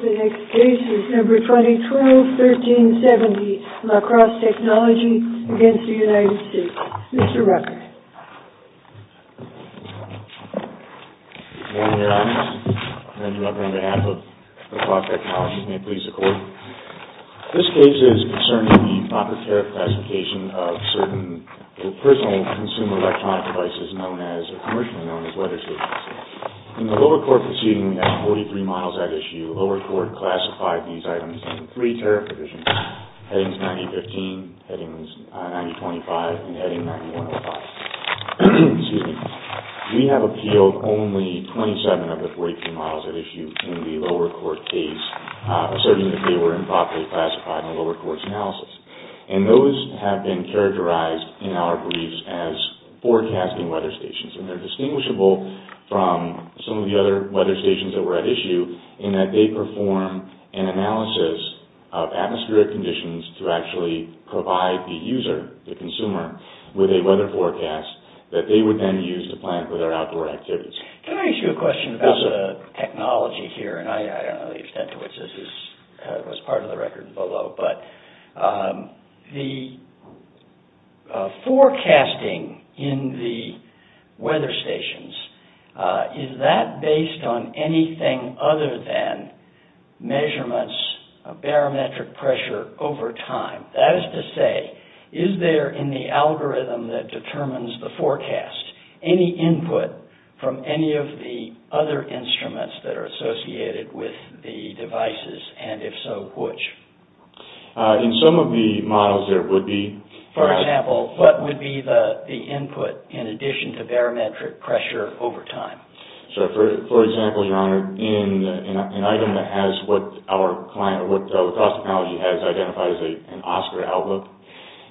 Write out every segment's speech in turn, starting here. The next case is number 2012-1370, La Crosse Technology v. United States. Mr. Rucker. Good morning, Your Honor. I'm Andrew Rucker on behalf of La Crosse Technology. May it please the Court. This case is concerning the proper tariff classification of certain personal consumer electronic devices known as, or commercially known as, leather shoes. In the lower court proceeding at 43 miles at issue, lower court classified these items in three tariff divisions, heading 9015, heading 9025, and heading 9105. We have appealed only 27 of the 43 models at issue in the lower court case, asserting that they were improperly classified in the lower court's analysis. And those have been characterized in our briefs as forecasting weather stations. And they're distinguishable from some of the other weather stations that were at issue in that they perform an analysis of atmospheric conditions to actually provide the user, the consumer, with a weather forecast that they would then use to plan for their outdoor activities. Can I ask you a question about the technology here? And I don't know the extent to which this was part of the record and below, but the forecasting in the weather stations, is that based on anything other than measurements of barometric pressure over time? That is to say, is there in the algorithm that determines the forecast, any input from any of the other instruments that are associated with the devices? And if so, which? In some of the models there would be. For example, what would be the input in addition to barometric pressure over time? So for example, your honor, in an item that has what our client, what La Crosse Technology has identified as an Oscar Outlook,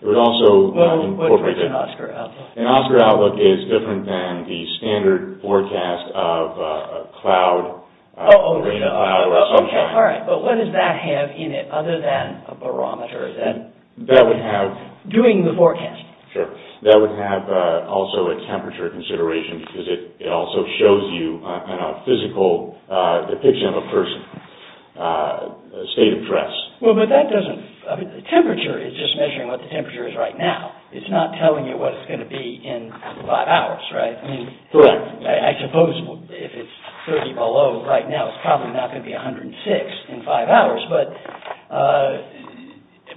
it would also incorporate... What is an Oscar Outlook? An Oscar Outlook is different than the standard forecast of a cloud or a sunshine. All right, but what does that have in it other than a barometer? That would have... Doing the forecast. Sure. That would have also a temperature consideration, because it also shows you a physical depiction of a person, a state of dress. Well, but that doesn't... Temperature is just measuring what the temperature is right now. It's not telling you what it's going to be in five hours, right? Correct. I suppose if it's 30 below right now, it's probably not going to be 106 in five hours, but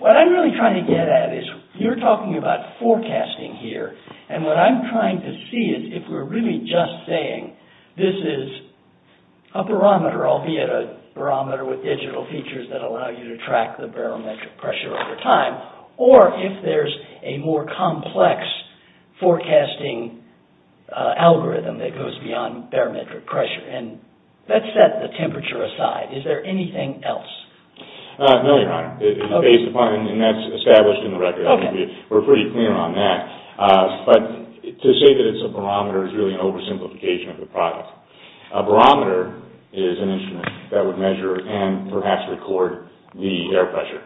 what I'm really trying to get at is you're talking about forecasting here, and what I'm trying to see is if we're really just saying this is a barometer, albeit a barometer with digital features that allow you to track the barometric pressure over time, or if there's a more complex forecasting algorithm that goes beyond barometric pressure, and let's set the temperature aside. Is there anything else? No, Your Honor. It's based upon, and that's established in the record. We're pretty clear on that, but to say that it's a barometer is really an oversimplification of the product. A barometer is an instrument that would measure and perhaps record the air pressure.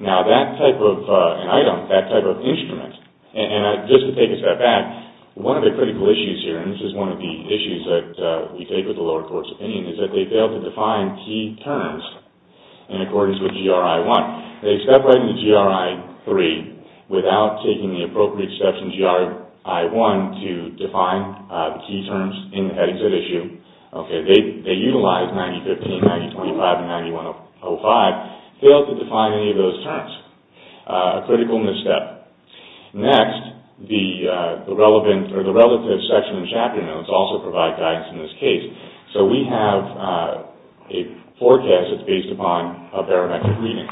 Now, that type of an item, that type of instrument, and just to take a step back, one of the critical issues here, and this is one of the issues that we take with the lower court's opinion, is that they fail to define key terms in accordance with GRI 1. They step right into GRI 3 without taking the appropriate steps in GRI 1 to define key terms in the heading set issue. They utilize 9015, 9025, and 9105, fail to define any of those terms. A critical misstep. Next, the relative section and chapter notes also provide guidance in this case. So we have a forecast that's based upon a barometric reading,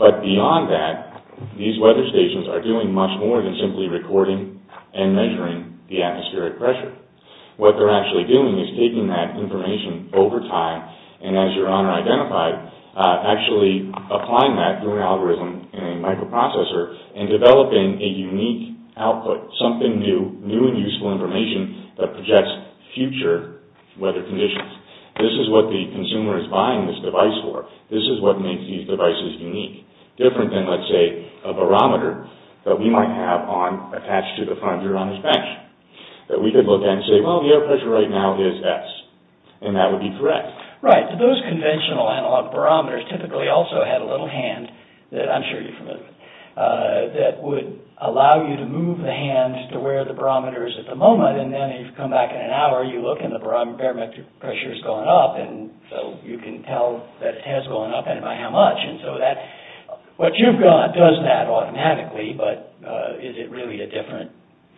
but beyond that, these weather stations are doing much more than simply recording and measuring the atmospheric pressure. What they're actually doing is taking that information over time, and as Your Honor identified, actually applying that through an algorithm in a microprocessor and developing a unique output, something new, new and useful information that projects future weather conditions. This is what the consumer is buying this device for. This is what makes these devices unique. Different than, let's say, a barometer that we might have on attached to the front of Your Honor's bench that we could look at and say, well, the air pressure right now is S, and that would be correct. Right. Those conventional analog barometers typically also had a little hand that I'm sure you're familiar with that would allow you to move the hand to where the barometer is at the moment, and then if you come back in an hour, you look and the barometric pressure has gone up, and so you can tell that it has gone up, and by how much. What you've got does that automatically, but is it really a different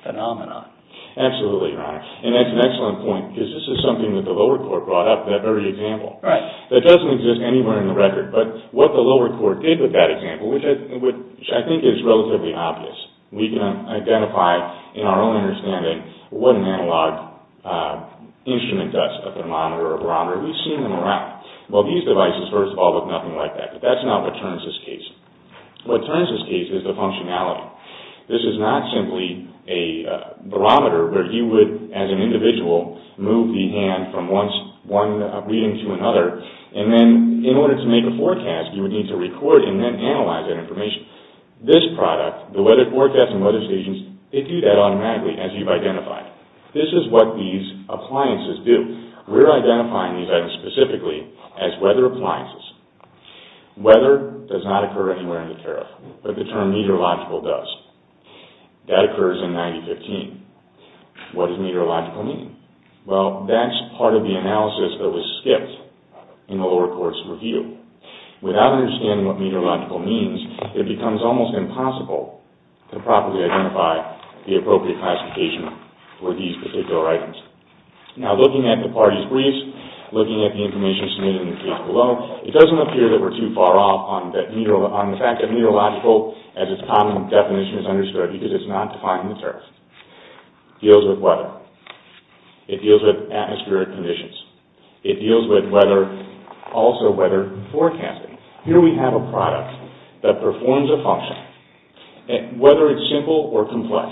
phenomenon? Absolutely, Your Honor, and that's an excellent point, because this is something that the lower core brought up in that very example. Right. That doesn't exist anywhere in the record, but what the lower core did with that example, which I think is relatively obvious, we can identify in our own understanding what an analog instrument does, a thermometer or a barometer. We've seen them around. Well, these devices, first of all, look nothing like that, but that's not what turns this case. What turns this case is the functionality. This is not simply a barometer where you would, as an individual, move the hand from one reading to another, and then in order to make a forecast, you would need to record and then analyze that information. This product, the weather forecast and weather stations, they do that automatically, as you've identified. This is what these appliances do. We're identifying these items specifically as weather appliances. Weather does not occur anywhere in the tariff, but the term meteorological does. That occurs in 1915. What does meteorological mean? Well, that's part of the analysis that was skipped in the lower court's review. Without understanding what meteorological means, it becomes almost impossible to properly identify the appropriate classification for these particular items. Now, looking at the parties briefs, looking at the information submitted in the case below, it doesn't appear that we're too far off on the fact that meteorological, as its common definition is understood, because it's not defined in the tariff, deals with weather. It deals with atmospheric conditions. It deals with weather, also weather forecasting. Here we have a product that performs a function. Whether it's simple or complex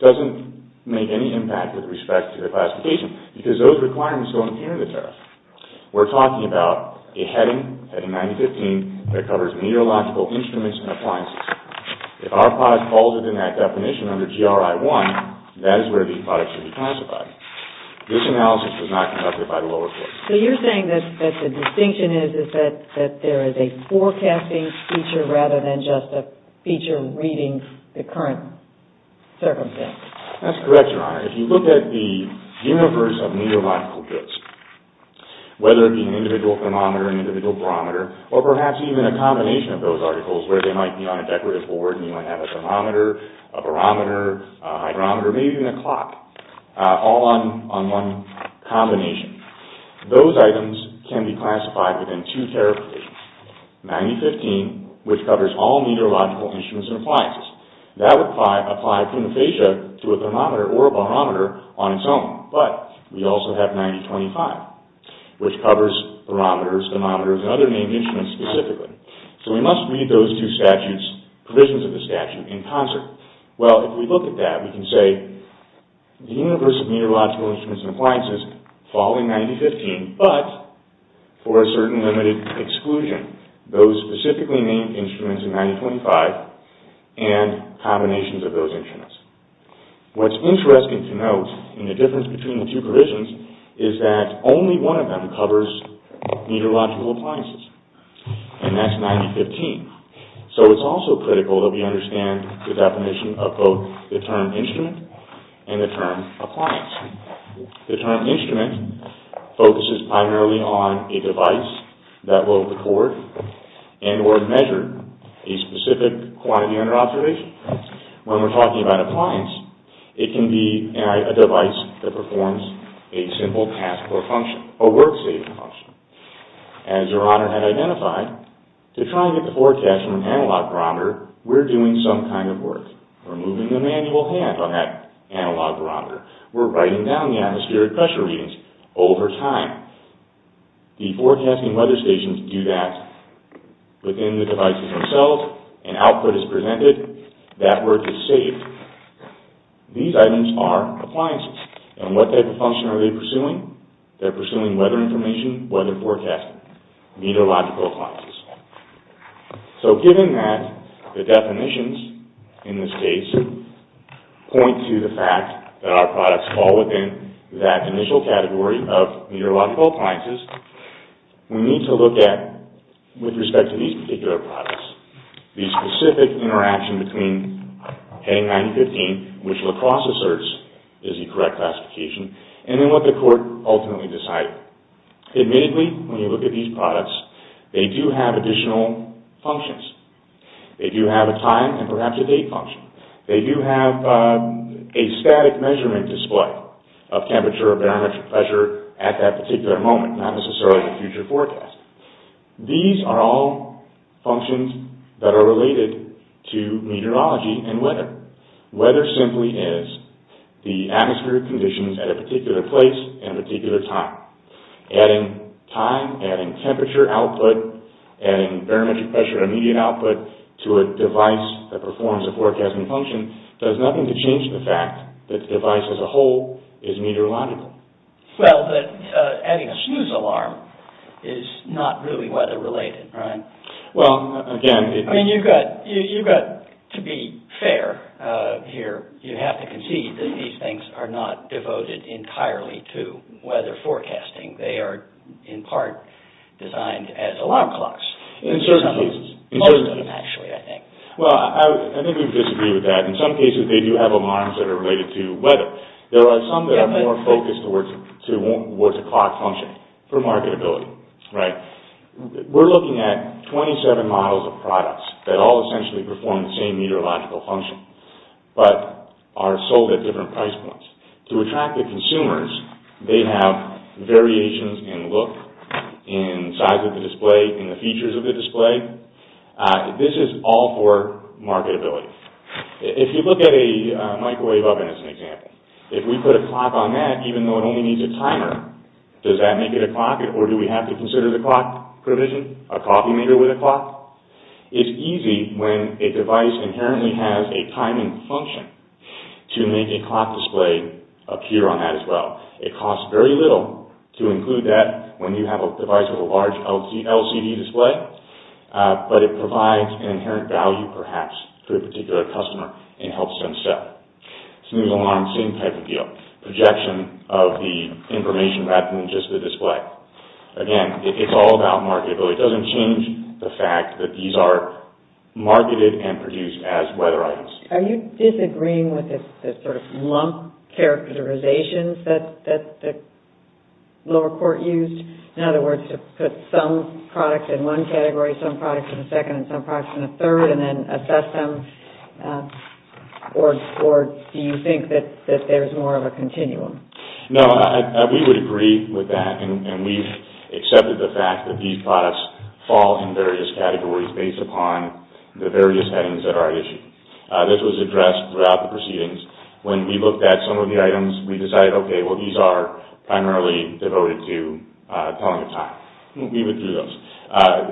doesn't make any impact with respect to the classification because those requirements don't appear in the tariff. We're talking about a heading, heading 1915, that covers meteorological instruments and appliances. If our product falls within that definition under GRI 1, that is where these products should be classified. This analysis was not conducted by the lower court. So you're saying that the distinction is that there is a forecasting feature rather than just a feature reading the current circumstance. That's correct, Your Honor. If you look at the universe of meteorological goods, whether it be an individual thermometer, an individual barometer, or perhaps even a combination of those articles, where they might be on a decorative board and you might have a thermometer, a barometer, a hydrometer, maybe even a clock, all on one combination, those items can be classified within two tariff categories. Ninety-fifteen, which covers all meteorological instruments and appliances. That would apply puna facie to a thermometer or a barometer on its own. But we also have 1925, which covers barometers, thermometers, and other named instruments specifically. So we must read those two statutes, provisions of the statute, in concert. Well, if we look at that, we can say the universe of meteorological instruments and appliances fall in 1915, but for a certain limited exclusion. Those specifically named instruments in 1925 and combinations of those instruments. What's interesting to note in the difference between the two provisions is that only one of them covers meteorological appliances, and that's 1915. So it's also critical that we understand the definition of both the term instrument and the term appliance. The term instrument focuses primarily on a device that will record and or measure a specific quantity under observation. When we're talking about appliance, it can be a device that performs a simple task or function, a work-saving function. As Your Honor had identified, to try and get the forecast from an analog barometer, we're doing some kind of work. We're moving the manual hand on that analog barometer. We're writing down the atmospheric pressure readings over time. The forecasting weather stations do that within the devices themselves. An output is presented. That work is saved. These items are appliances, and what type of function are they pursuing? They're pursuing weather information, weather forecasting, meteorological appliances. So given that, the definitions in this case do point to the fact that our products fall within that initial category of meteorological appliances, we need to look at, with respect to these particular products, the specific interaction between heading 1915, which La Crosse asserts is the correct classification, and then what the court ultimately decided. Admittedly, when you look at these products, they do have additional functions. They do have a time and perhaps a date function. They do have a static measurement display of temperature or barometric pressure at that particular moment, not necessarily the future forecast. These are all functions that are related to meteorology and weather. Weather simply is the atmospheric conditions at a particular place and a particular time. Adding time, adding temperature output, and barometric pressure immediate output to a device that performs a forecasting function does nothing to change the fact that the device as a whole is meteorological. Well, adding a snooze alarm is not really weather related, right? Well, again... I mean, you've got, to be fair here, you have to concede that these things are not devoted entirely to weather forecasting. They are, in part, designed as alarm clocks. In certain cases. Most of them, actually, I think. Well, I think we disagree with that. In some cases, they do have alarms that are related to weather. There are some that are more focused towards a clock function for marketability, right? We're looking at 27 models of products that all essentially perform the same meteorological function but are sold at different price points. To attract the consumers, they have variations in look, in size of the display, in the features of the display. This is all for marketability. If you look at a microwave oven as an example, if we put a clock on that, even though it only needs a timer, does that make it a clock? Or do we have to consider the clock provision? A coffee maker with a clock? It's easy when a device inherently has a timing function to make a clock display appear on that as well. It costs very little to include that when you have a device with a large LCD display, but it provides an inherent value, perhaps, to a particular customer and helps them sell. Smooth alarm, same type of deal. Projection of the information rather than just the display. Again, it's all about marketability. It doesn't change the fact that these are marketed and produced as weather items. Are you disagreeing with the sort of lump characterizations that the lower court used? In other words, to put some products in one category, some products in a second, and some products in a third, and then assess them? Or do you think that there's more of a continuum? No, we would agree with that, and we've accepted the fact that these products fall in various categories based upon the various settings that are issued. This was addressed throughout the proceedings. When we looked at some of the items, we decided, okay, well, these are primarily devoted to telling the time. We withdrew those.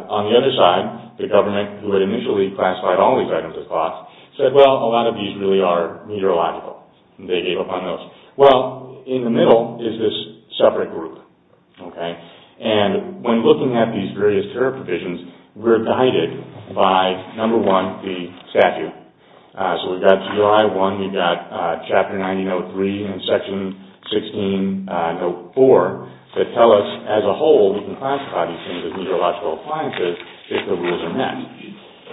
On the other side, the government, who had initially classified all these items as clocks, said, well, a lot of these really are meteorological. They gave up on those. Well, in the middle is this separate group, okay? And when looking at these various care provisions, we were guided by, number one, the statute. So we've got July 1. We've got Chapter 90, Note 3, and Section 16, Note 4, that tell us as a whole we can classify these things as meteorological appliances if the rules are met.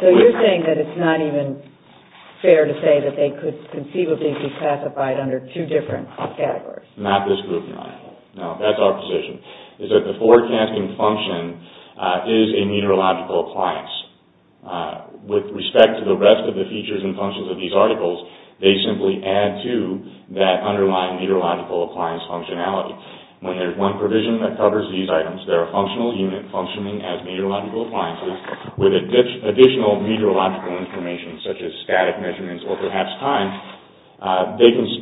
So you're saying that it's not even fair to say that they could conceivably be classified under two different categories? Not this group, no. No, that's our position, is that the forecasting function is a meteorological appliance. With respect to the rest of the features and functions of these articles, they simply add to that underlying meteorological appliance functionality. When there's one provision that covers these items, they're a functional unit functioning as meteorological appliances with additional meteorological information such as static measurements or perhaps time,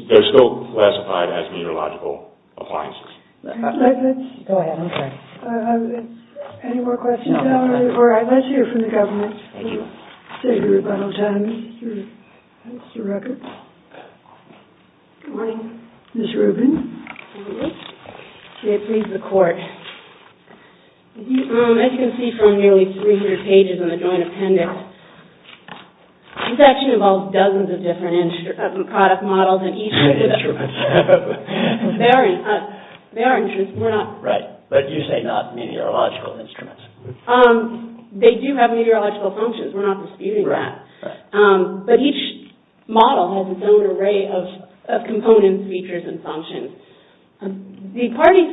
they're still classified as meteorological appliances. Go ahead, I'm sorry. Any more questions, Valerie, or I'd like to hear from the government. We'll take a rebuttal time. That's the record. Good morning. Ms. Rubin. Good morning. May it please the Court. As you can see from nearly 300 pages in the joint appendix, this actually involves dozens of different product models and instruments. They are instruments, we're not. Right, but you say not meteorological instruments. They do have meteorological functions, we're not disputing that. But each model has its own array of components, features, and functions. The parties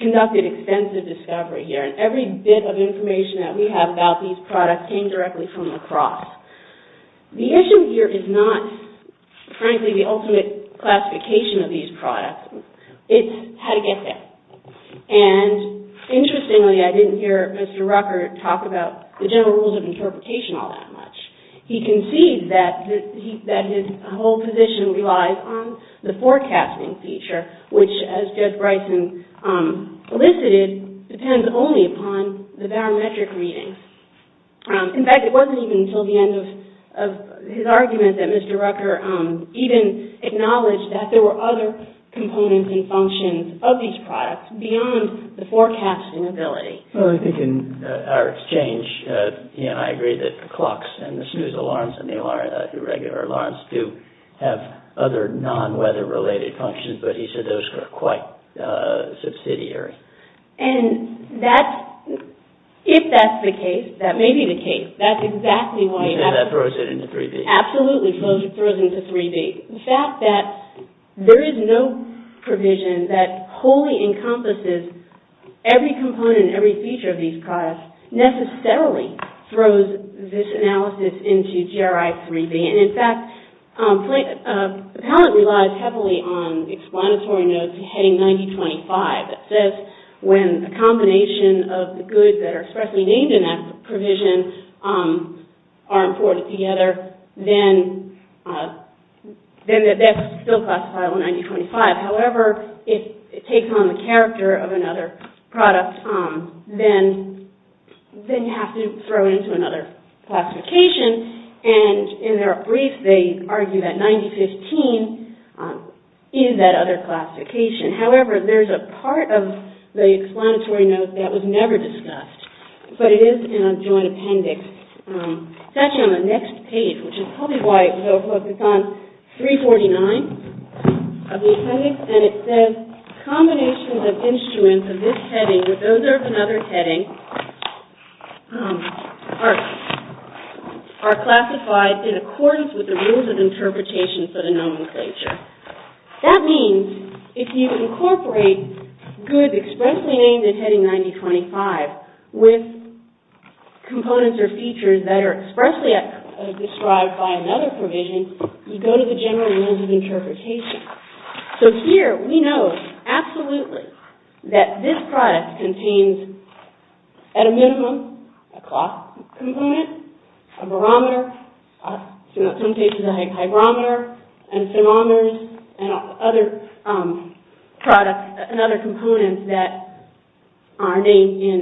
conducted extensive discovery here, and every bit of information that we have about these products came directly from La Crosse. The issue here is not, frankly, the ultimate classification of these products, it's how to get there. And interestingly, I didn't hear Mr. Rucker talk about the general rules of interpretation all that much. He concedes that his whole position relies on the forecasting feature, which, as Judge Bryson elicited, depends only upon the barometric readings. In fact, it wasn't even until the end of his argument that Mr. Rucker even acknowledged that there were other components and functions of these products beyond the forecasting ability. Well, I think in our exchange, he and I agreed that the clocks and the snooze alarms and the regular alarms do have other non-weather related functions, but he said those were quite subsidiary. And if that's the case, that may be the case, that's exactly why you have to... He said that throws it into 3D. Absolutely throws it into 3D. The fact that there is no provision that wholly encompasses every component and every feature of these products necessarily throws this analysis into GRI 3D. And in fact, the palette relies heavily on explanatory notes heading 9025. It says when a combination of the goods that are expressly named in that provision are imported together, then that's still classified on 9025. However, if it takes on the character of another product, then you have to throw it into another classification. And in their brief, they argue that 9015 is that other classification. However, there's a part of the explanatory note that was never discussed, but it is in a joint appendix. It's actually on the next page, which is probably why it will focus on 349 of the appendix. And it says combinations of instruments of this heading with those of another heading are classified in accordance with the rules of interpretation for the nomenclature. That means if you incorporate goods expressly named in heading 9025 with components or features that are expressly described by another provision, you go to the general rules of interpretation. So here, we know absolutely that this product contains at a minimum a cloth component, a barometer, in some cases a hygrometer, and thermometers, and other products and other components that are named in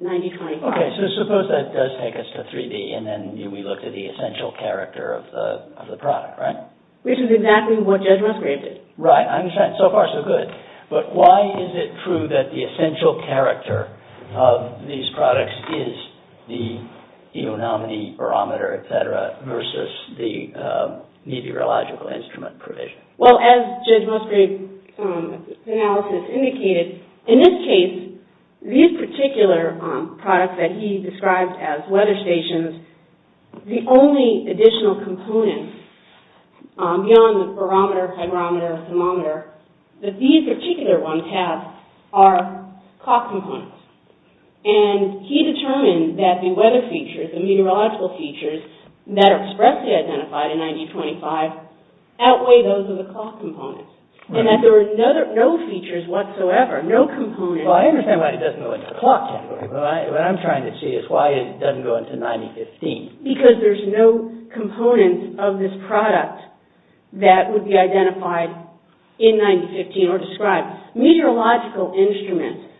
9025. Okay, so suppose that does take us to 3D, and then we looked at the essential character of the product, right? Which is exactly what Judge Musgrave did. Right, so far, so good. But why is it true that the essential character of these products is the enormity, barometer, et cetera, versus the meteorological instrument provision? Well, as Judge Musgrave's analysis indicated, in this case, these particular products that he described as weather stations, the only additional components beyond the barometer, hygrometer, thermometer, that these particular ones have are cloth components. And he determined that the weather features, the meteorological features that are expressly identified in 9025 outweigh those of the cloth components. And that there are no features whatsoever, no components. Well, I understand why it doesn't go into the cloth category, but what I'm trying to see is why it doesn't go into 9015. Because there's no component of this product that would be identified in 9015 or described. Meteorological instruments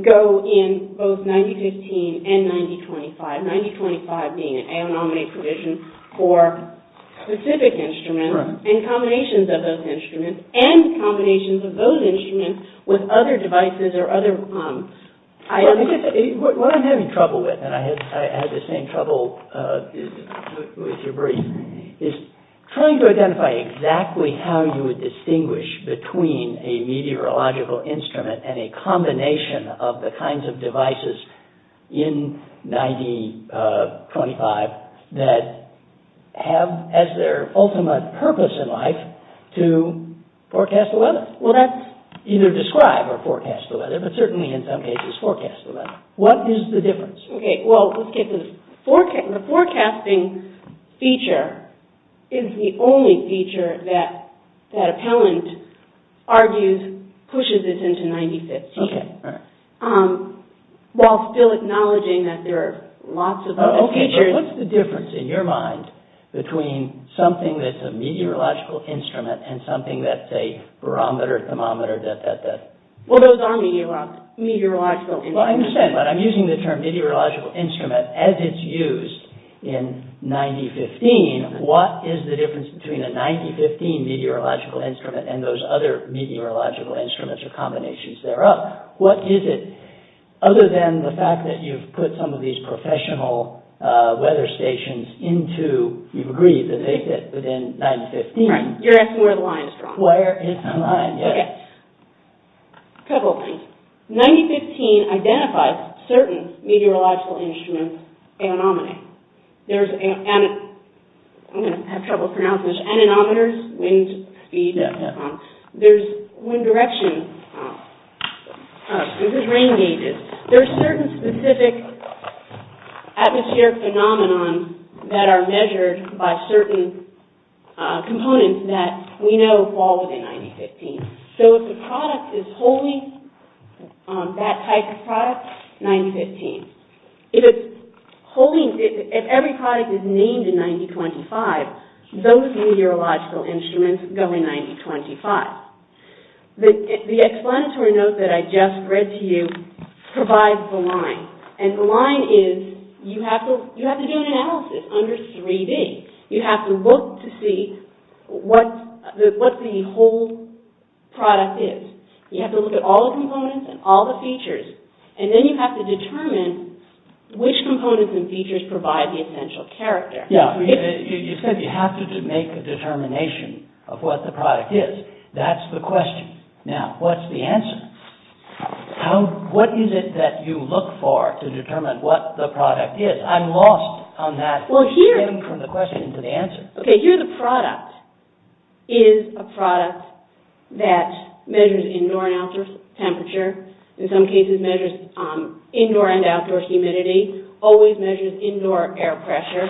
go in both 9015 and 9025, 9025 being an anomaly provision for specific instruments and combinations of those instruments and combinations of those instruments with other devices or other items. What I'm having trouble with, and I had the same trouble with your brief, is trying to identify exactly how you would distinguish between a meteorological instrument and a combination of the kinds of devices in 9025 that have as their ultimate purpose in life to forecast the weather. Well, that's either describe or forecast the weather, but certainly in some cases forecast the weather. What is the difference? OK, well, let's get this. The forecasting feature is the only feature that that appellant argues pushes this into 9015. OK, all right. While still acknowledging that there are lots of other features. OK, but what's the difference in your mind between something that's a meteorological instrument and something that's a barometer, thermometer, that, that, that? Well, those are meteorological instruments. Well, I understand, but I'm using the term meteorological instrument as it's used in 9015. In 9015, what is the difference between a 9015 meteorological instrument and those other meteorological instruments or combinations thereof? What is it? Other than the fact that you've put some of these professional weather stations into, you've agreed that they fit within 9015. Right, you're asking where the line is drawn. Where is the line? Yes. OK, a couple of things. 9015 identifies certain meteorological instruments as an anomaly. There's, I'm going to have trouble pronouncing this, anemometers, wind speed, that, that, that. There's wind direction. This is rain gauges. There's certain specific atmospheric phenomenon that are measured by certain components that we know fall within 9015. So if the product is wholly that type of product, 9015. If it's wholly, if every product is named in 9025, those meteorological instruments go in 9025. The explanatory note that I just read to you provides the line. And the line is, you have to do an analysis under 3D. You have to look to see what the whole product is. You have to look at all the components and all the features. And then you have to determine which components and features provide the essential character. Yeah, you said you have to make a determination of what the product is. That's the question. Now, what's the answer? What is it that you look for to determine what the product is? I'm lost on that from the question to the answer. OK, here the product is a product that measures indoor and outdoor temperature. In some cases, measures indoor and outdoor humidity. Always measures indoor air pressure.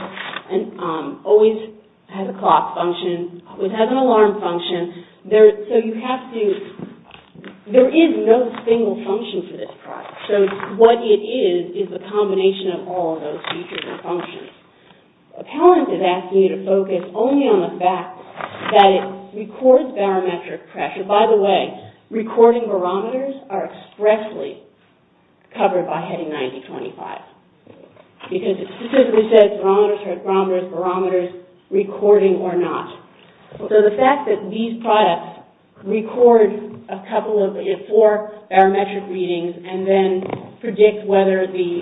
And always has a clock function. Always has an alarm function. So you have to, there is no single function for this product. So what it is, is a combination of all of those features and functions. Appellant is asking you to focus only on the fact that it records barometric pressure. And by the way, recording barometers are expressly covered by heading 9025. Because it specifically says barometers, barometers, barometers, recording or not. So the fact that these products record a couple of, four barometric readings, and then predict whether the,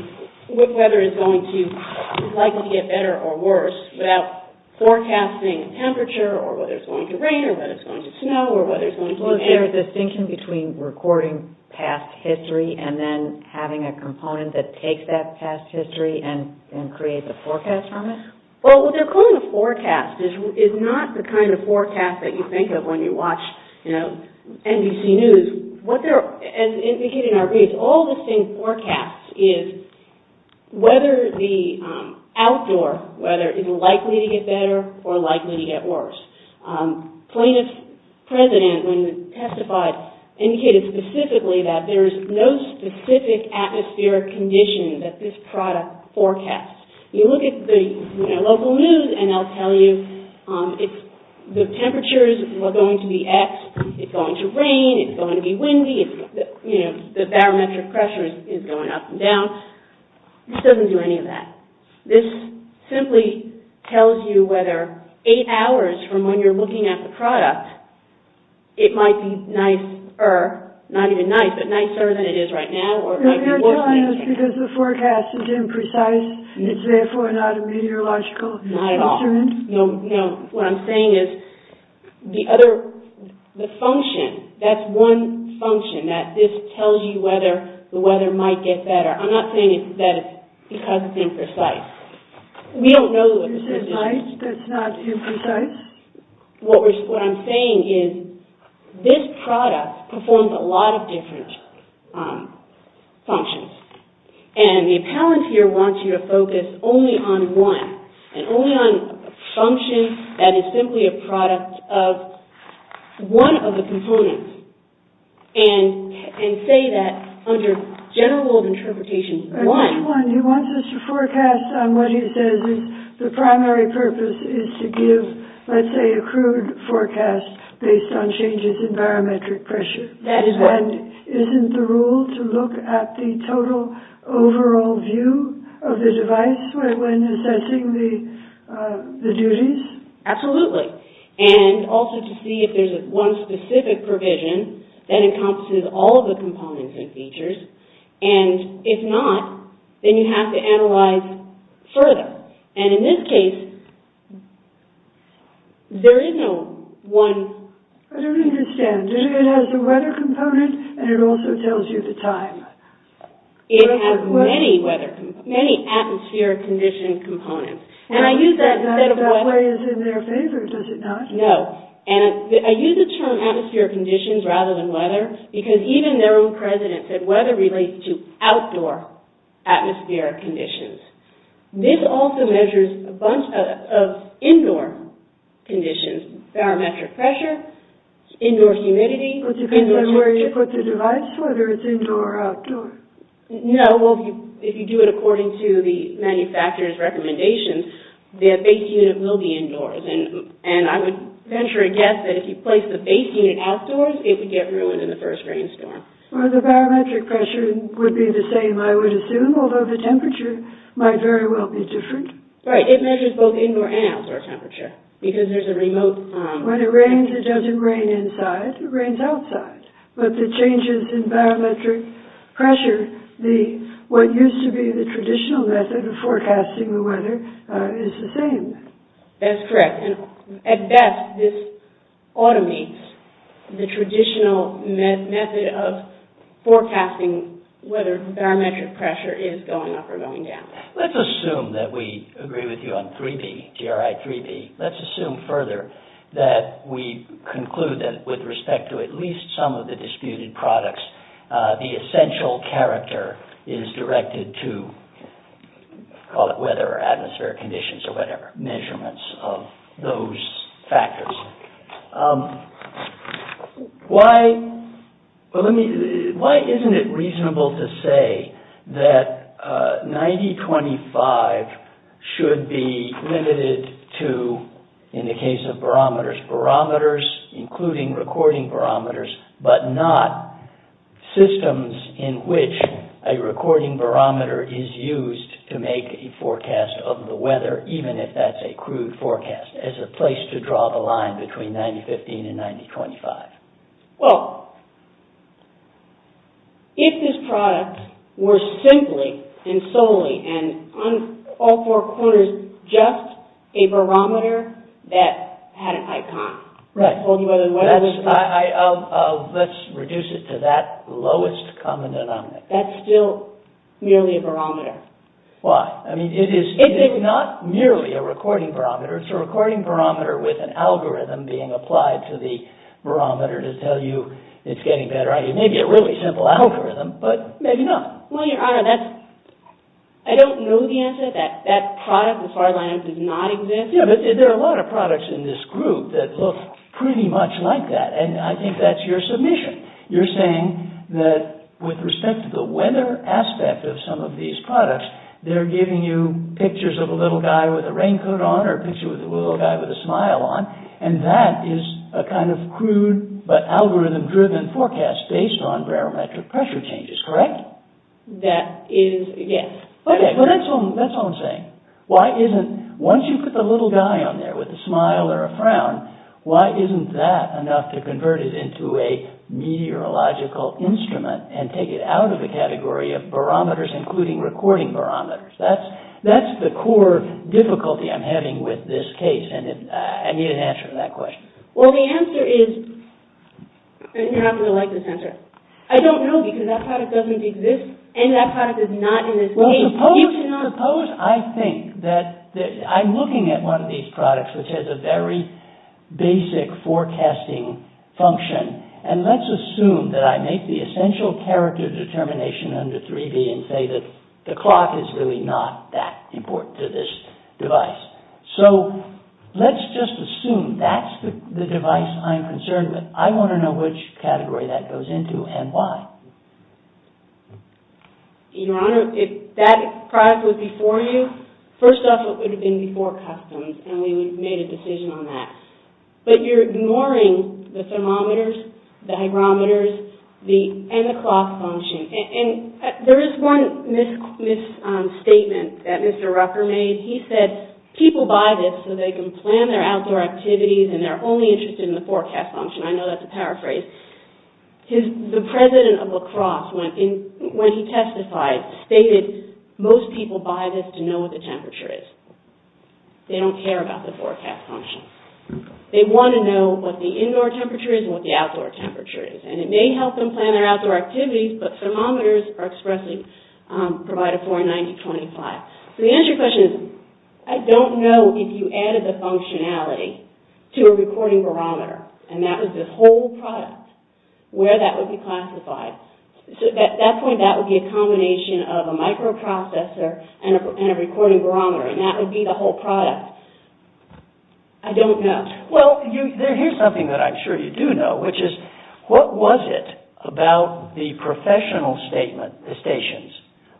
whether it's going to likely get better or worse without forecasting temperature, or whether it's going to rain, or whether it's going to snow, or whether it's going to be rainy. Well, is there a distinction between recording past history and then having a component that takes that past history and creates a forecast from it? Well, what they're calling a forecast is not the kind of forecast that you think of when you watch NBC News. What they're, as indicated in our reads, all the same forecasts is whether the outdoor weather is likely to get better or likely to get worse. Plaintiff's president, when he testified, indicated specifically that there is no specific atmospheric condition that this product forecasts. You look at the local news and they'll tell you if the temperatures are going to be X, it's going to rain, it's going to be windy, you know, the barometric pressure is going up and down. This doesn't do any of that. This simply tells you whether eight hours from when you're looking at the product, it might be nicer, not even nice, but nicer than it is right now. They're telling us because the forecast is imprecise, it's therefore not a meteorological instrument. Not at all. No, no. What I'm saying is the other, the function, that's one function that this tells you whether the weather might get better. I'm not saying that it's because it's imprecise. We don't know that it's imprecise. It's not imprecise? What I'm saying is this product performs a lot of different functions. And the appellant here wants you to focus only on one, and only on a function that is simply a product of one of the components. And say that under general interpretations, one. I see one. He wants us to forecast on what he says is the primary purpose is to give, let's say, a crude forecast based on changes in barometric pressure. That is right. And isn't the rule to look at the total overall view of the device when assessing the duties? Absolutely. And also to see if there's one specific provision that encompasses all of the components and features. And if not, then you have to analyze further. And in this case, there is no one. I don't understand. It has the weather component and it also tells you the time. It has many weather, many atmosphere condition components. And I use that instead of weather. That way is in their favor, is it not? No. And I use the term atmosphere conditions rather than weather because even their own president said weather relates to outdoor atmospheric conditions. This also measures a bunch of indoor conditions. Barometric pressure, indoor humidity. It depends on where you put the device, whether it's indoor or outdoor. No. Well, if you do it according to the manufacturer's recommendations, their base unit will be indoors. And I would venture a guess that if you place the base unit outdoors, it would get ruined in the first rainstorm. Well, the barometric pressure would be the same, I would assume, although the temperature might very well be different. Right. It measures both indoor and outdoor temperature because there's a remote... When it rains, it doesn't rain inside. It rains outside. But the changes in barometric pressure, what used to be the same. That's correct. At best, this automates the traditional method of forecasting whether barometric pressure is going up or going down. Let's assume that we agree with you on 3B, GRI 3B. Let's assume further that we conclude that with respect to at least some of the disputed products, the essential character is directed to, call it weather or atmospheric conditions or whatever, measurements of those factors. Why isn't it reasonable to say that 9025 should be limited to, in the case of barometers, barometers including recording barometers, but not systems in which a recording barometer is used to make a forecast of the weather, even if that's a crude forecast, as a place to draw the line between 9015 and 9025? Well, if this product were simply and solely and on all four corners, just a barometer that had an icon... Right. Let's reduce it to that lowest common denominator. That's still merely a barometer. Why? I mean, it is not merely a recording barometer. It's a recording barometer with an algorithm being applied to the barometer to tell you it's getting better. I mean, it may be a really simple algorithm, but maybe not. Well, Your Honor, I don't know the answer to that. That product, the far line, does not exist. There are a lot of products in this group that look pretty much like that, and I think that's your submission. You're saying that, with respect to the weather aspect of some of these products, they're giving you pictures of a little guy with a raincoat on or a picture of a little guy with a smile on, and that is a kind of crude but algorithm-driven forecast based on barometric pressure changes, correct? That is, yes. Okay, well, that's all I'm saying. Once you put the little guy on there with a smile or a frown, why isn't that enough to convert it into a meteorological instrument and take it out of the category of barometers, including recording barometers? That's the core difficulty I'm having with this case, and I need an answer to that question. Well, the answer is... You're not going to like this answer. I don't know, because that product doesn't exist, and that product is not in this case. Suppose I think that I'm looking at one of these products which has a very basic forecasting function, and let's assume that I make the essential character determination under 3D and say that the clock is really not that important to this device. So let's just assume that's the device I'm concerned with. I want to know which category that goes into and why. Your Honor, if that product was before you, first off, it would have been before customs, and we would have made a decision on that. But you're ignoring the thermometers, the hygrometers, and the clock function. And there is one misstatement that Mr. Rucker made. He said people buy this so they can plan their outdoor activities and they're only interested in the forecast function. I know that's a paraphrase. The president of lacrosse, when he testified, stated most people buy this to know what the temperature is. They don't care about the forecast function. They want to know what the indoor temperature is and what the outdoor temperature is. And it may help them plan their outdoor activities, but thermometers are expressly provided for in 9025. So the answer to your question is I don't know if you added the functionality to a recording barometer, and that was the whole product, where that would be classified. At that point, that would be a combination of a microprocessor and a recording barometer, and that would be the whole product. I don't know. Well, here's something that I'm sure you do know, which is what was it about the professional stations?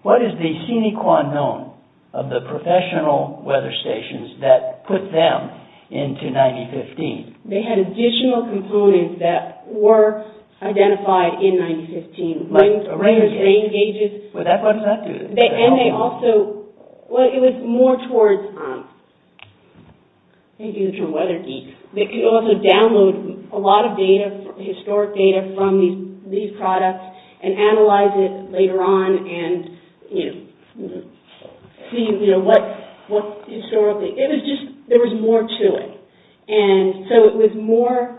What is the sine qua non of the professional weather stations that put them into 9015? They had additional components that were identified in 9015. Rain gauges. What does that do? And they also – well, it was more towards – I think it was from Weather Geek. They could also download a lot of data, historic data, from these products and analyze it later on and, you know, see, you know, what historically – it was just – there was more to it. And so it was more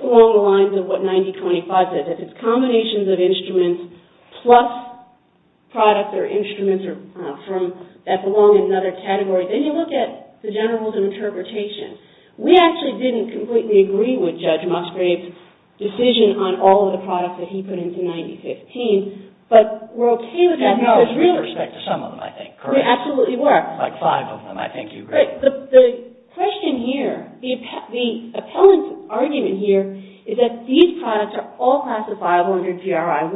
along the lines of what 9025 does. It's combinations of instruments plus products or instruments from – that belong in another category. Then you look at the general rules of interpretation. We actually didn't completely agree with Judge Musgrave's decision on all of the products that he put into 9015, but we're okay with that now. With respect to some of them, I think, correct? We absolutely were. Like five of them, I think you agree. The question here – the appellant's argument here is that these products are all classifiable under GRI 1.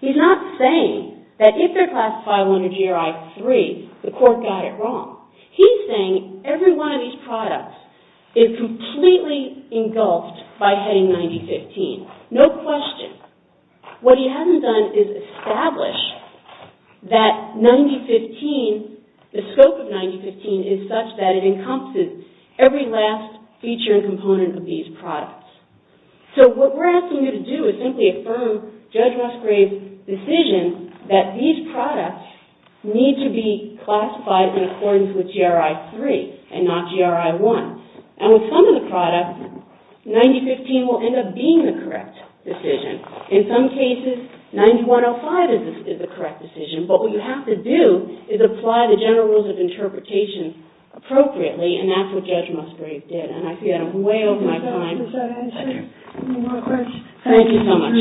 He's not saying that if they're classifiable under GRI 3, the court got it wrong. He's saying every one of these products is completely engulfed by heading 9015. No question. What he hasn't done is establish that 9015 – is such that it encompasses every last feature and component of these products. So what we're asking you to do is simply affirm Judge Musgrave's decision that these products need to be classified in accordance with GRI 3 and not GRI 1. And with some of the products, 9015 will end up being the correct decision. In some cases, 90105 is the correct decision, but what you have to do is apply the general rules of interpretation appropriately, and that's what Judge Musgrave did. And I see I'm way over my time. Thank you. Any more questions? Thank you so much.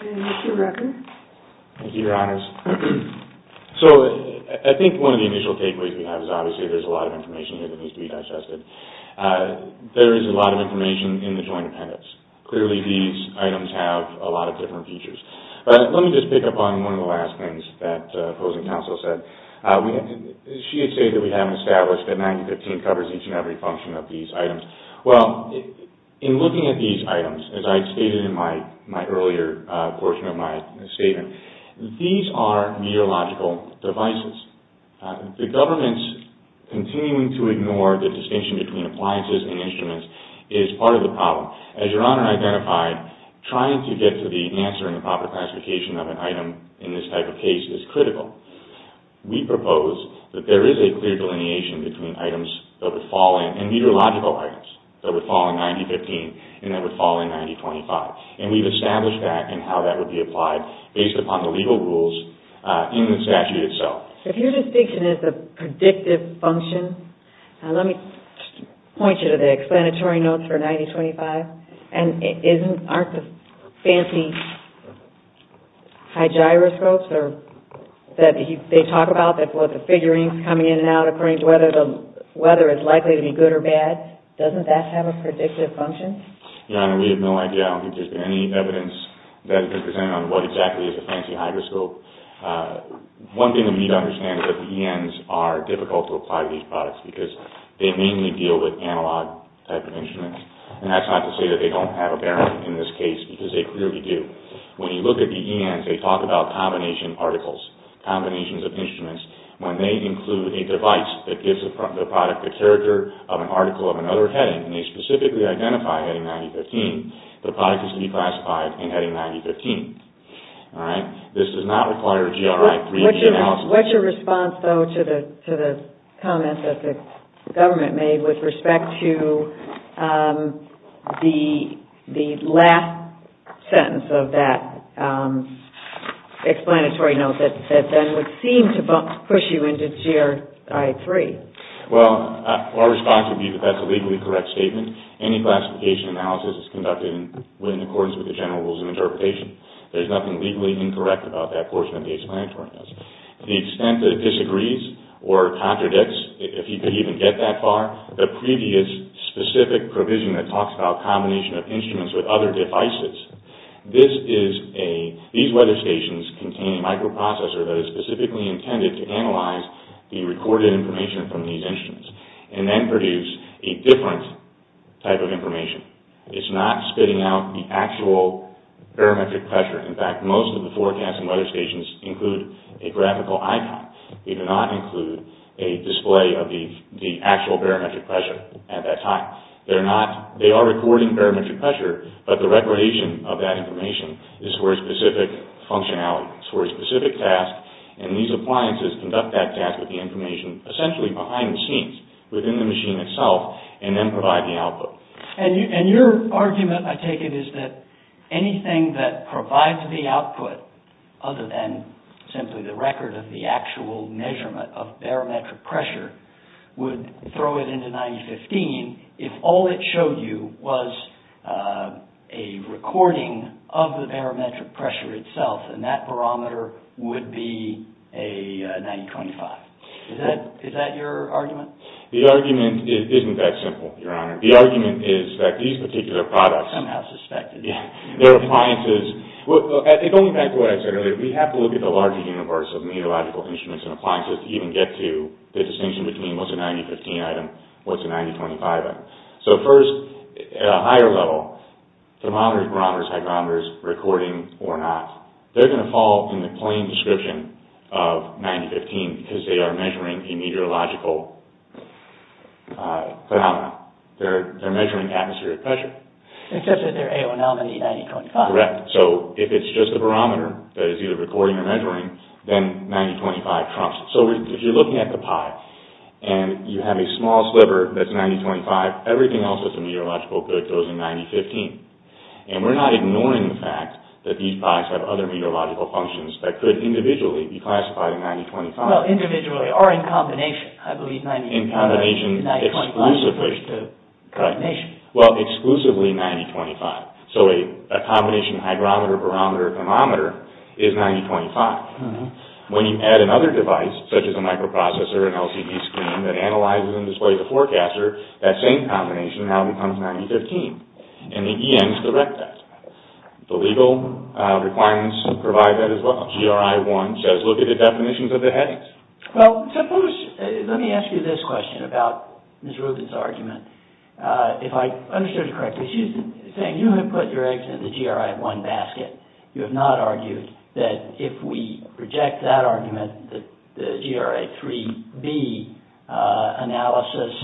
And that's your record. Thank you, Your Honors. So I think one of the initial takeaways we have is obviously there's a lot of information here that needs to be digested. There is a lot of information in the joint appendix. Clearly, these items have a lot of different features. But let me just pick up on one of the last things that opposing counsel said. She had stated that we haven't established that 9015 covers each and every function of these items. Well, in looking at these items, as I stated in my earlier portion of my statement, these are meteorological devices. The government's continuing to ignore the distinction between appliances and instruments is part of the problem. As Your Honor identified, trying to get to the answer in the proper classification of an item in this type of case is critical. We propose that there is a clear delineation between items that would fall in, and meteorological items that would fall in 9015 and that would fall in 9025. And we've established that and how that would be applied based upon the legal rules in the statute itself. If your distinction is a predictive function, Let me point you to the explanatory notes for 9025. Aren't the fancy hygroscopes that they talk about, the figurines coming in and out according to whether it's likely to be good or bad, doesn't that have a predictive function? Your Honor, we have no idea. I don't think there's been any evidence that has been presented on what exactly is a fancy hygroscope. One thing that we need to understand is that the ENs are difficult to apply to these products because they mainly deal with analog type of instruments. And that's not to say that they don't have a bearing in this case because they clearly do. When you look at the ENs, they talk about combination particles, combinations of instruments. When they include a device that gives the product the character of an article of another heading, and they specifically identify heading 9015, the product is to be classified in heading 9015. This does not require a GRI 3D analysis. What's your response, though, to the comments that the government made with respect to the last sentence of that explanatory note that then would seem to push you into GRI 3? Well, our response would be that that's a legally correct statement. Any classification analysis is conducted in accordance with the general rules of interpretation. There's nothing legally incorrect about that portion of the explanatory note. The extent that it disagrees or contradicts, if you could even get that far, the previous specific provision that talks about combination of instruments with other devices. These weather stations contain a microprocessor that is specifically intended to analyze the recorded information from these instruments and then produce a different type of information. It's not spitting out the actual parametric pressure. In fact, most of the forecasting weather stations include a graphical icon. They do not include a display of the actual parametric pressure at that time. They are recording parametric pressure, but the recordation of that information is for a specific functionality. It's for a specific task, and these appliances conduct that task with the information essentially behind the scenes, within the machine itself, and then provide the output. And your argument, I take it, is that anything that provides the output, other than simply the record of the actual measurement of parametric pressure, would throw it into 9015 if all it showed you was a recording of the parametric pressure itself, and that barometer would be a 9025. Is that your argument? The argument isn't that simple, Your Honor. The argument is that these particular products... Somehow suspected. Their appliances... Going back to what I said earlier, we have to look at the larger universe of meteorological instruments and appliances to even get to the distinction between what's a 9015 item, what's a 9025 item. So first, at a higher level, thermometers, barometers, hygrometers, recording or not, they're going to fall in the plain description of 9015 because they are measuring a meteorological phenomenon. They're measuring atmospheric pressure. Except that they're AONL and E9025. Correct. So if it's just a barometer that is either recording or measuring, then 9025 trumps it. So if you're looking at the pie and you have a small sliver that's 9025, everything else that's a meteorological good goes in 9015. And we're not ignoring the fact that these pies have other meteorological functions that could individually be classified in 9025. Well, individually or in combination. I believe 9025 is the combination. Well, exclusively 9025. So a combination hygrometer, barometer, thermometer is 9025. When you add another device, such as a microprocessor, an LCD screen that analyzes and displays a forecaster, that same combination now becomes 9015. And the ENs correct that. The legal requirements provide that as well. GRI 1 says look at the definitions of the headings. Well, suppose, let me ask you this question about Ms. Rubin's argument. If I understood you correctly, she's saying you have put your eggs in the GRI 1 basket. You have not argued that if we reject that argument, the GRI 3B analysis,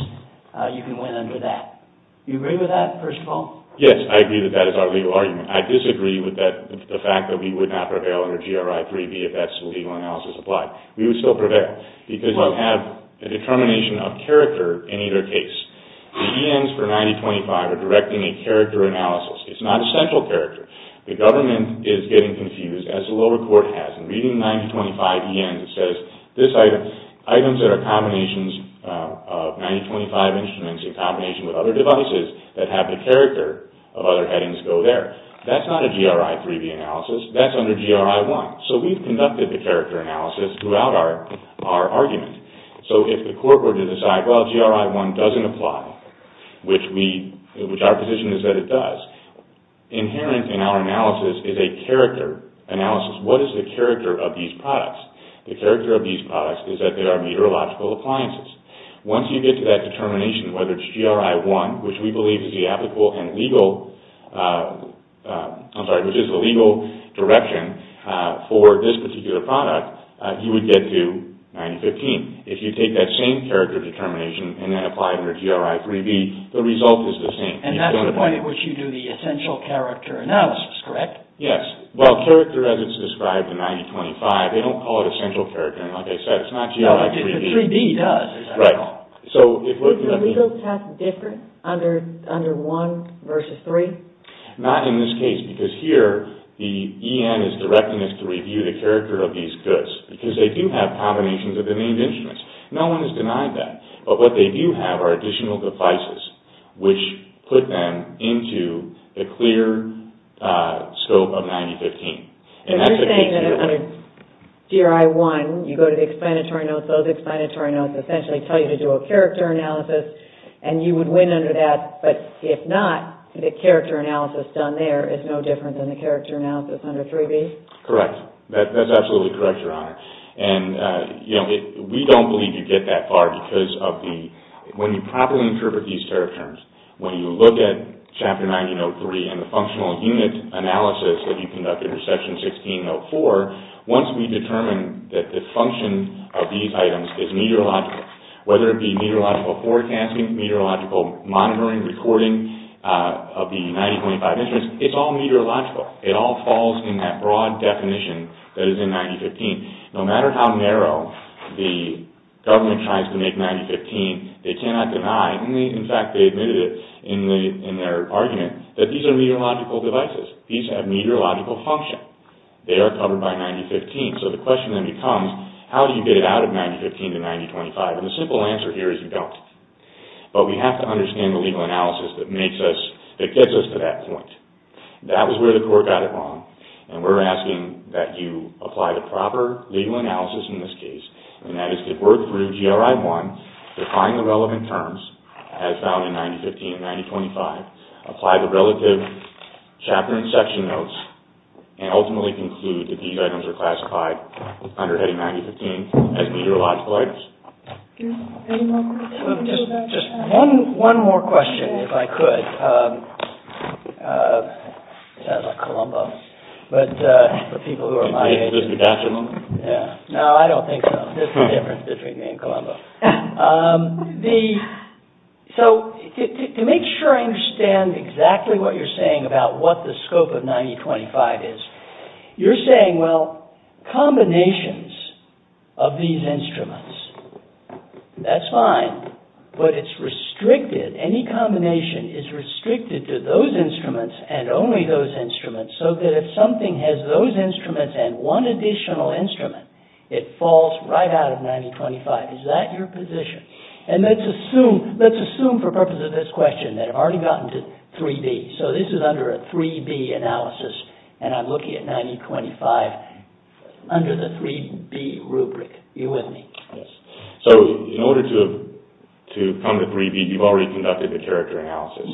you can win under that. Do you agree with that, first of all? Yes, I agree that that is our legal argument. I disagree with the fact that we would not prevail under GRI 3B if that's the legal analysis applied. We would still prevail because you have a determination of character in either case. The ENs for 9025 are directing a character analysis. It's not a central character. The government is getting confused, as the lower court has. In reading 9025 ENs, it says items that are combinations of 9025 instruments in combination with other devices that have the character of other headings go there. That's not a GRI 3B analysis. That's under GRI 1. So we've conducted the character analysis throughout our argument. So if the court were to decide, well, GRI 1 doesn't apply, which our position is that it does, inherent in our analysis is a character analysis. What is the character of these products? The character of these products is that they are meteorological appliances. Once you get to that determination, whether it's GRI 1, which we believe is the applicable and legal, I'm sorry, which is the legal direction for this particular product, you would get to 9015. If you take that same character determination and then apply it under GRI 3B, the result is the same. And that's the point at which you do the essential character analysis, correct? Yes. Well, character as it's described in 9025, they don't call it essential character analysis. It's not GRI 3B. But 3B does. Right. So it would be... Is the legal test different under 1 versus 3? Not in this case, because here the EN is directing us to review the character of these goods, because they do have combinations of the named instruments. No one has denied that. But what they do have are additional devices, which put them into the clear scope of 9015. If you're saying that under GRI 1 you go to the explanatory notes, those explanatory notes essentially tell you to do a character analysis and you would win under that. But if not, the character analysis done there is no different than the character analysis under 3B? Correct. That's absolutely correct, Your Honor. And, you know, we don't believe you get that far because of the... When you properly interpret these character terms, when you look at Chapter 19-03 and the functional unit analysis that you conduct under Section 16-04, once we determine that the function of these items is meteorological, whether it be meteorological forecasting, meteorological monitoring, recording of the 9025 instruments, it's all meteorological. It all falls in that broad definition that is in 9015. No matter how narrow the government tries to make 9015, they cannot deny, and in fact they admitted it in their argument, that these are meteorological devices. These have meteorological function. They are covered by 9015, so the question then becomes, how do you get it out of 9015 to 9025? And the simple answer here is you don't. But we have to understand the legal analysis that gets us to that point. That was where the court got it wrong, and we're asking that you apply the proper legal analysis in this case, and that is to work through GRI 1, define the relevant terms as found in 9015 and 9025, apply the relative chapter and section notes, and ultimately conclude that these items are classified under HETI 9015 as meteorological items. Just one more question, if I could. Sounds like Columbo. But for people who are my age... No, I don't think so. There's a difference between me and Columbo. So, to make sure I understand exactly what you're saying about what the scope of 9025 is, you're saying, well, combinations of these instruments, that's fine, but it's restricted. Any combination is restricted to those instruments and only those instruments, so that if something has those instruments and one additional instrument, it falls right out of 9025. Is that your position? And let's assume, for the purpose of this question, that I've already gotten to 3B. So this is under a 3B analysis, and I'm looking at 9025 under the 3B rubric. Are you with me? Yes. So, in order to come to 3B, you've already conducted the character analysis.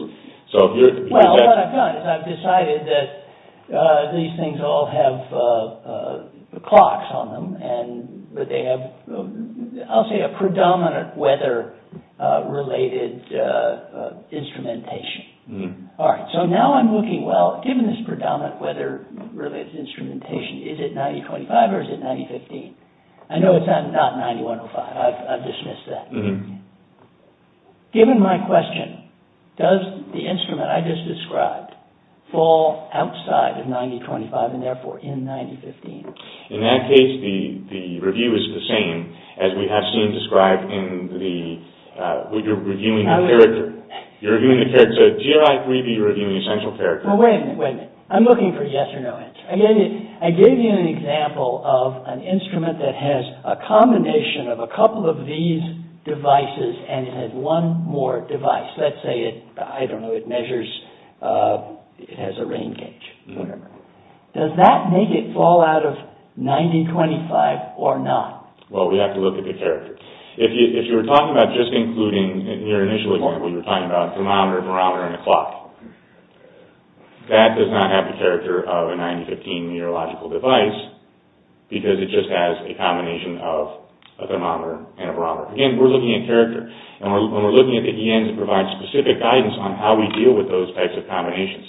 Well, what I've done is I've decided that these things all have clocks on them, and that they have, I'll say, a predominant weather-related instrumentation. All right, so now I'm looking, well, given this predominant weather-related instrumentation, is it 9025 or is it 9015? I know it's not 9105. I've dismissed that. Given my question, does the instrument I just described fall outside of 9025 and therefore in 9015? In that case, the review is the same as we have seen described in the, when you're reviewing the character. You're reviewing the character. So, do you or I agree that you're reviewing the essential character? Well, wait a minute, wait a minute. I'm looking for a yes or no answer. I gave you an example of an instrument that has a combination of a couple of these devices and it has one more device. Let's say it, I don't know, it measures, it has a rain gauge, whatever. Does that make it fall out of 9025 or not? Well, we have to look at the character. If you were talking about just including, you're initially going, well, you're talking about a thermometer, a barometer, and a clock. That does not have the character of a 9015 meteorological device because it just has a combination of a thermometer and a barometer. Again, we're looking at character. When we're looking at the ENs, it provides specific guidance on how we deal with those types of combinations.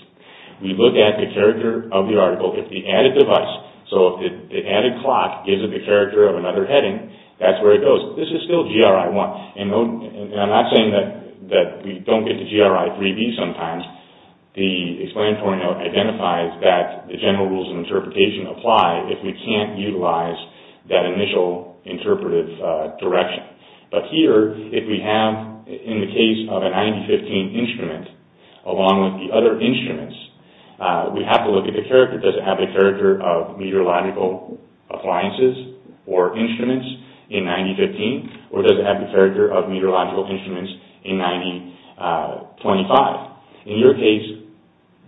We look at the character of the article. If the added device, so if the added clock gives it the character of another heading, that's where it goes. This is still GRI1. I'm not saying that we don't get to GRI3b sometimes, but the explanatory note identifies that the general rules of interpretation apply if we can't utilize that initial interpretive direction. But here, if we have, in the case of a 9015 instrument, along with the other instruments, we have to look at the character. Does it have the character of meteorological appliances or instruments in 9015, or does it have the character of meteorological instruments in 9025? In your case,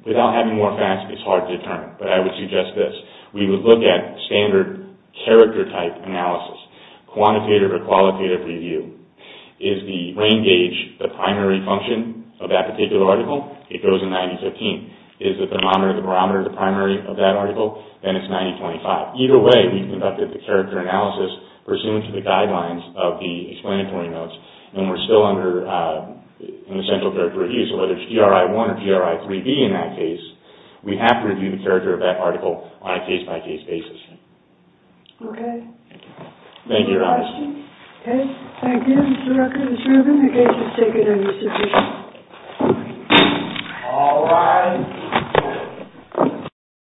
without having more facts, it's hard to determine, but I would suggest this. We would look at standard character type analysis, quantitative or qualitative review. Is the rain gauge the primary function of that particular article? It goes in 9015. Is the thermometer and the barometer the primary of that article? Then it's 9025. Either way, we conducted the character analysis pursuant to the guidelines of the explanatory notes, and we're still under an essential character review, whether it's GRI-1 or GRI-3B in that case. We have to review the character of that article on a case-by-case basis. Okay. Thank you, Your Honor. Any questions? Okay. Thank you, Mr. Rucker and Ms. Rubin. The case is taken under submission. All rise.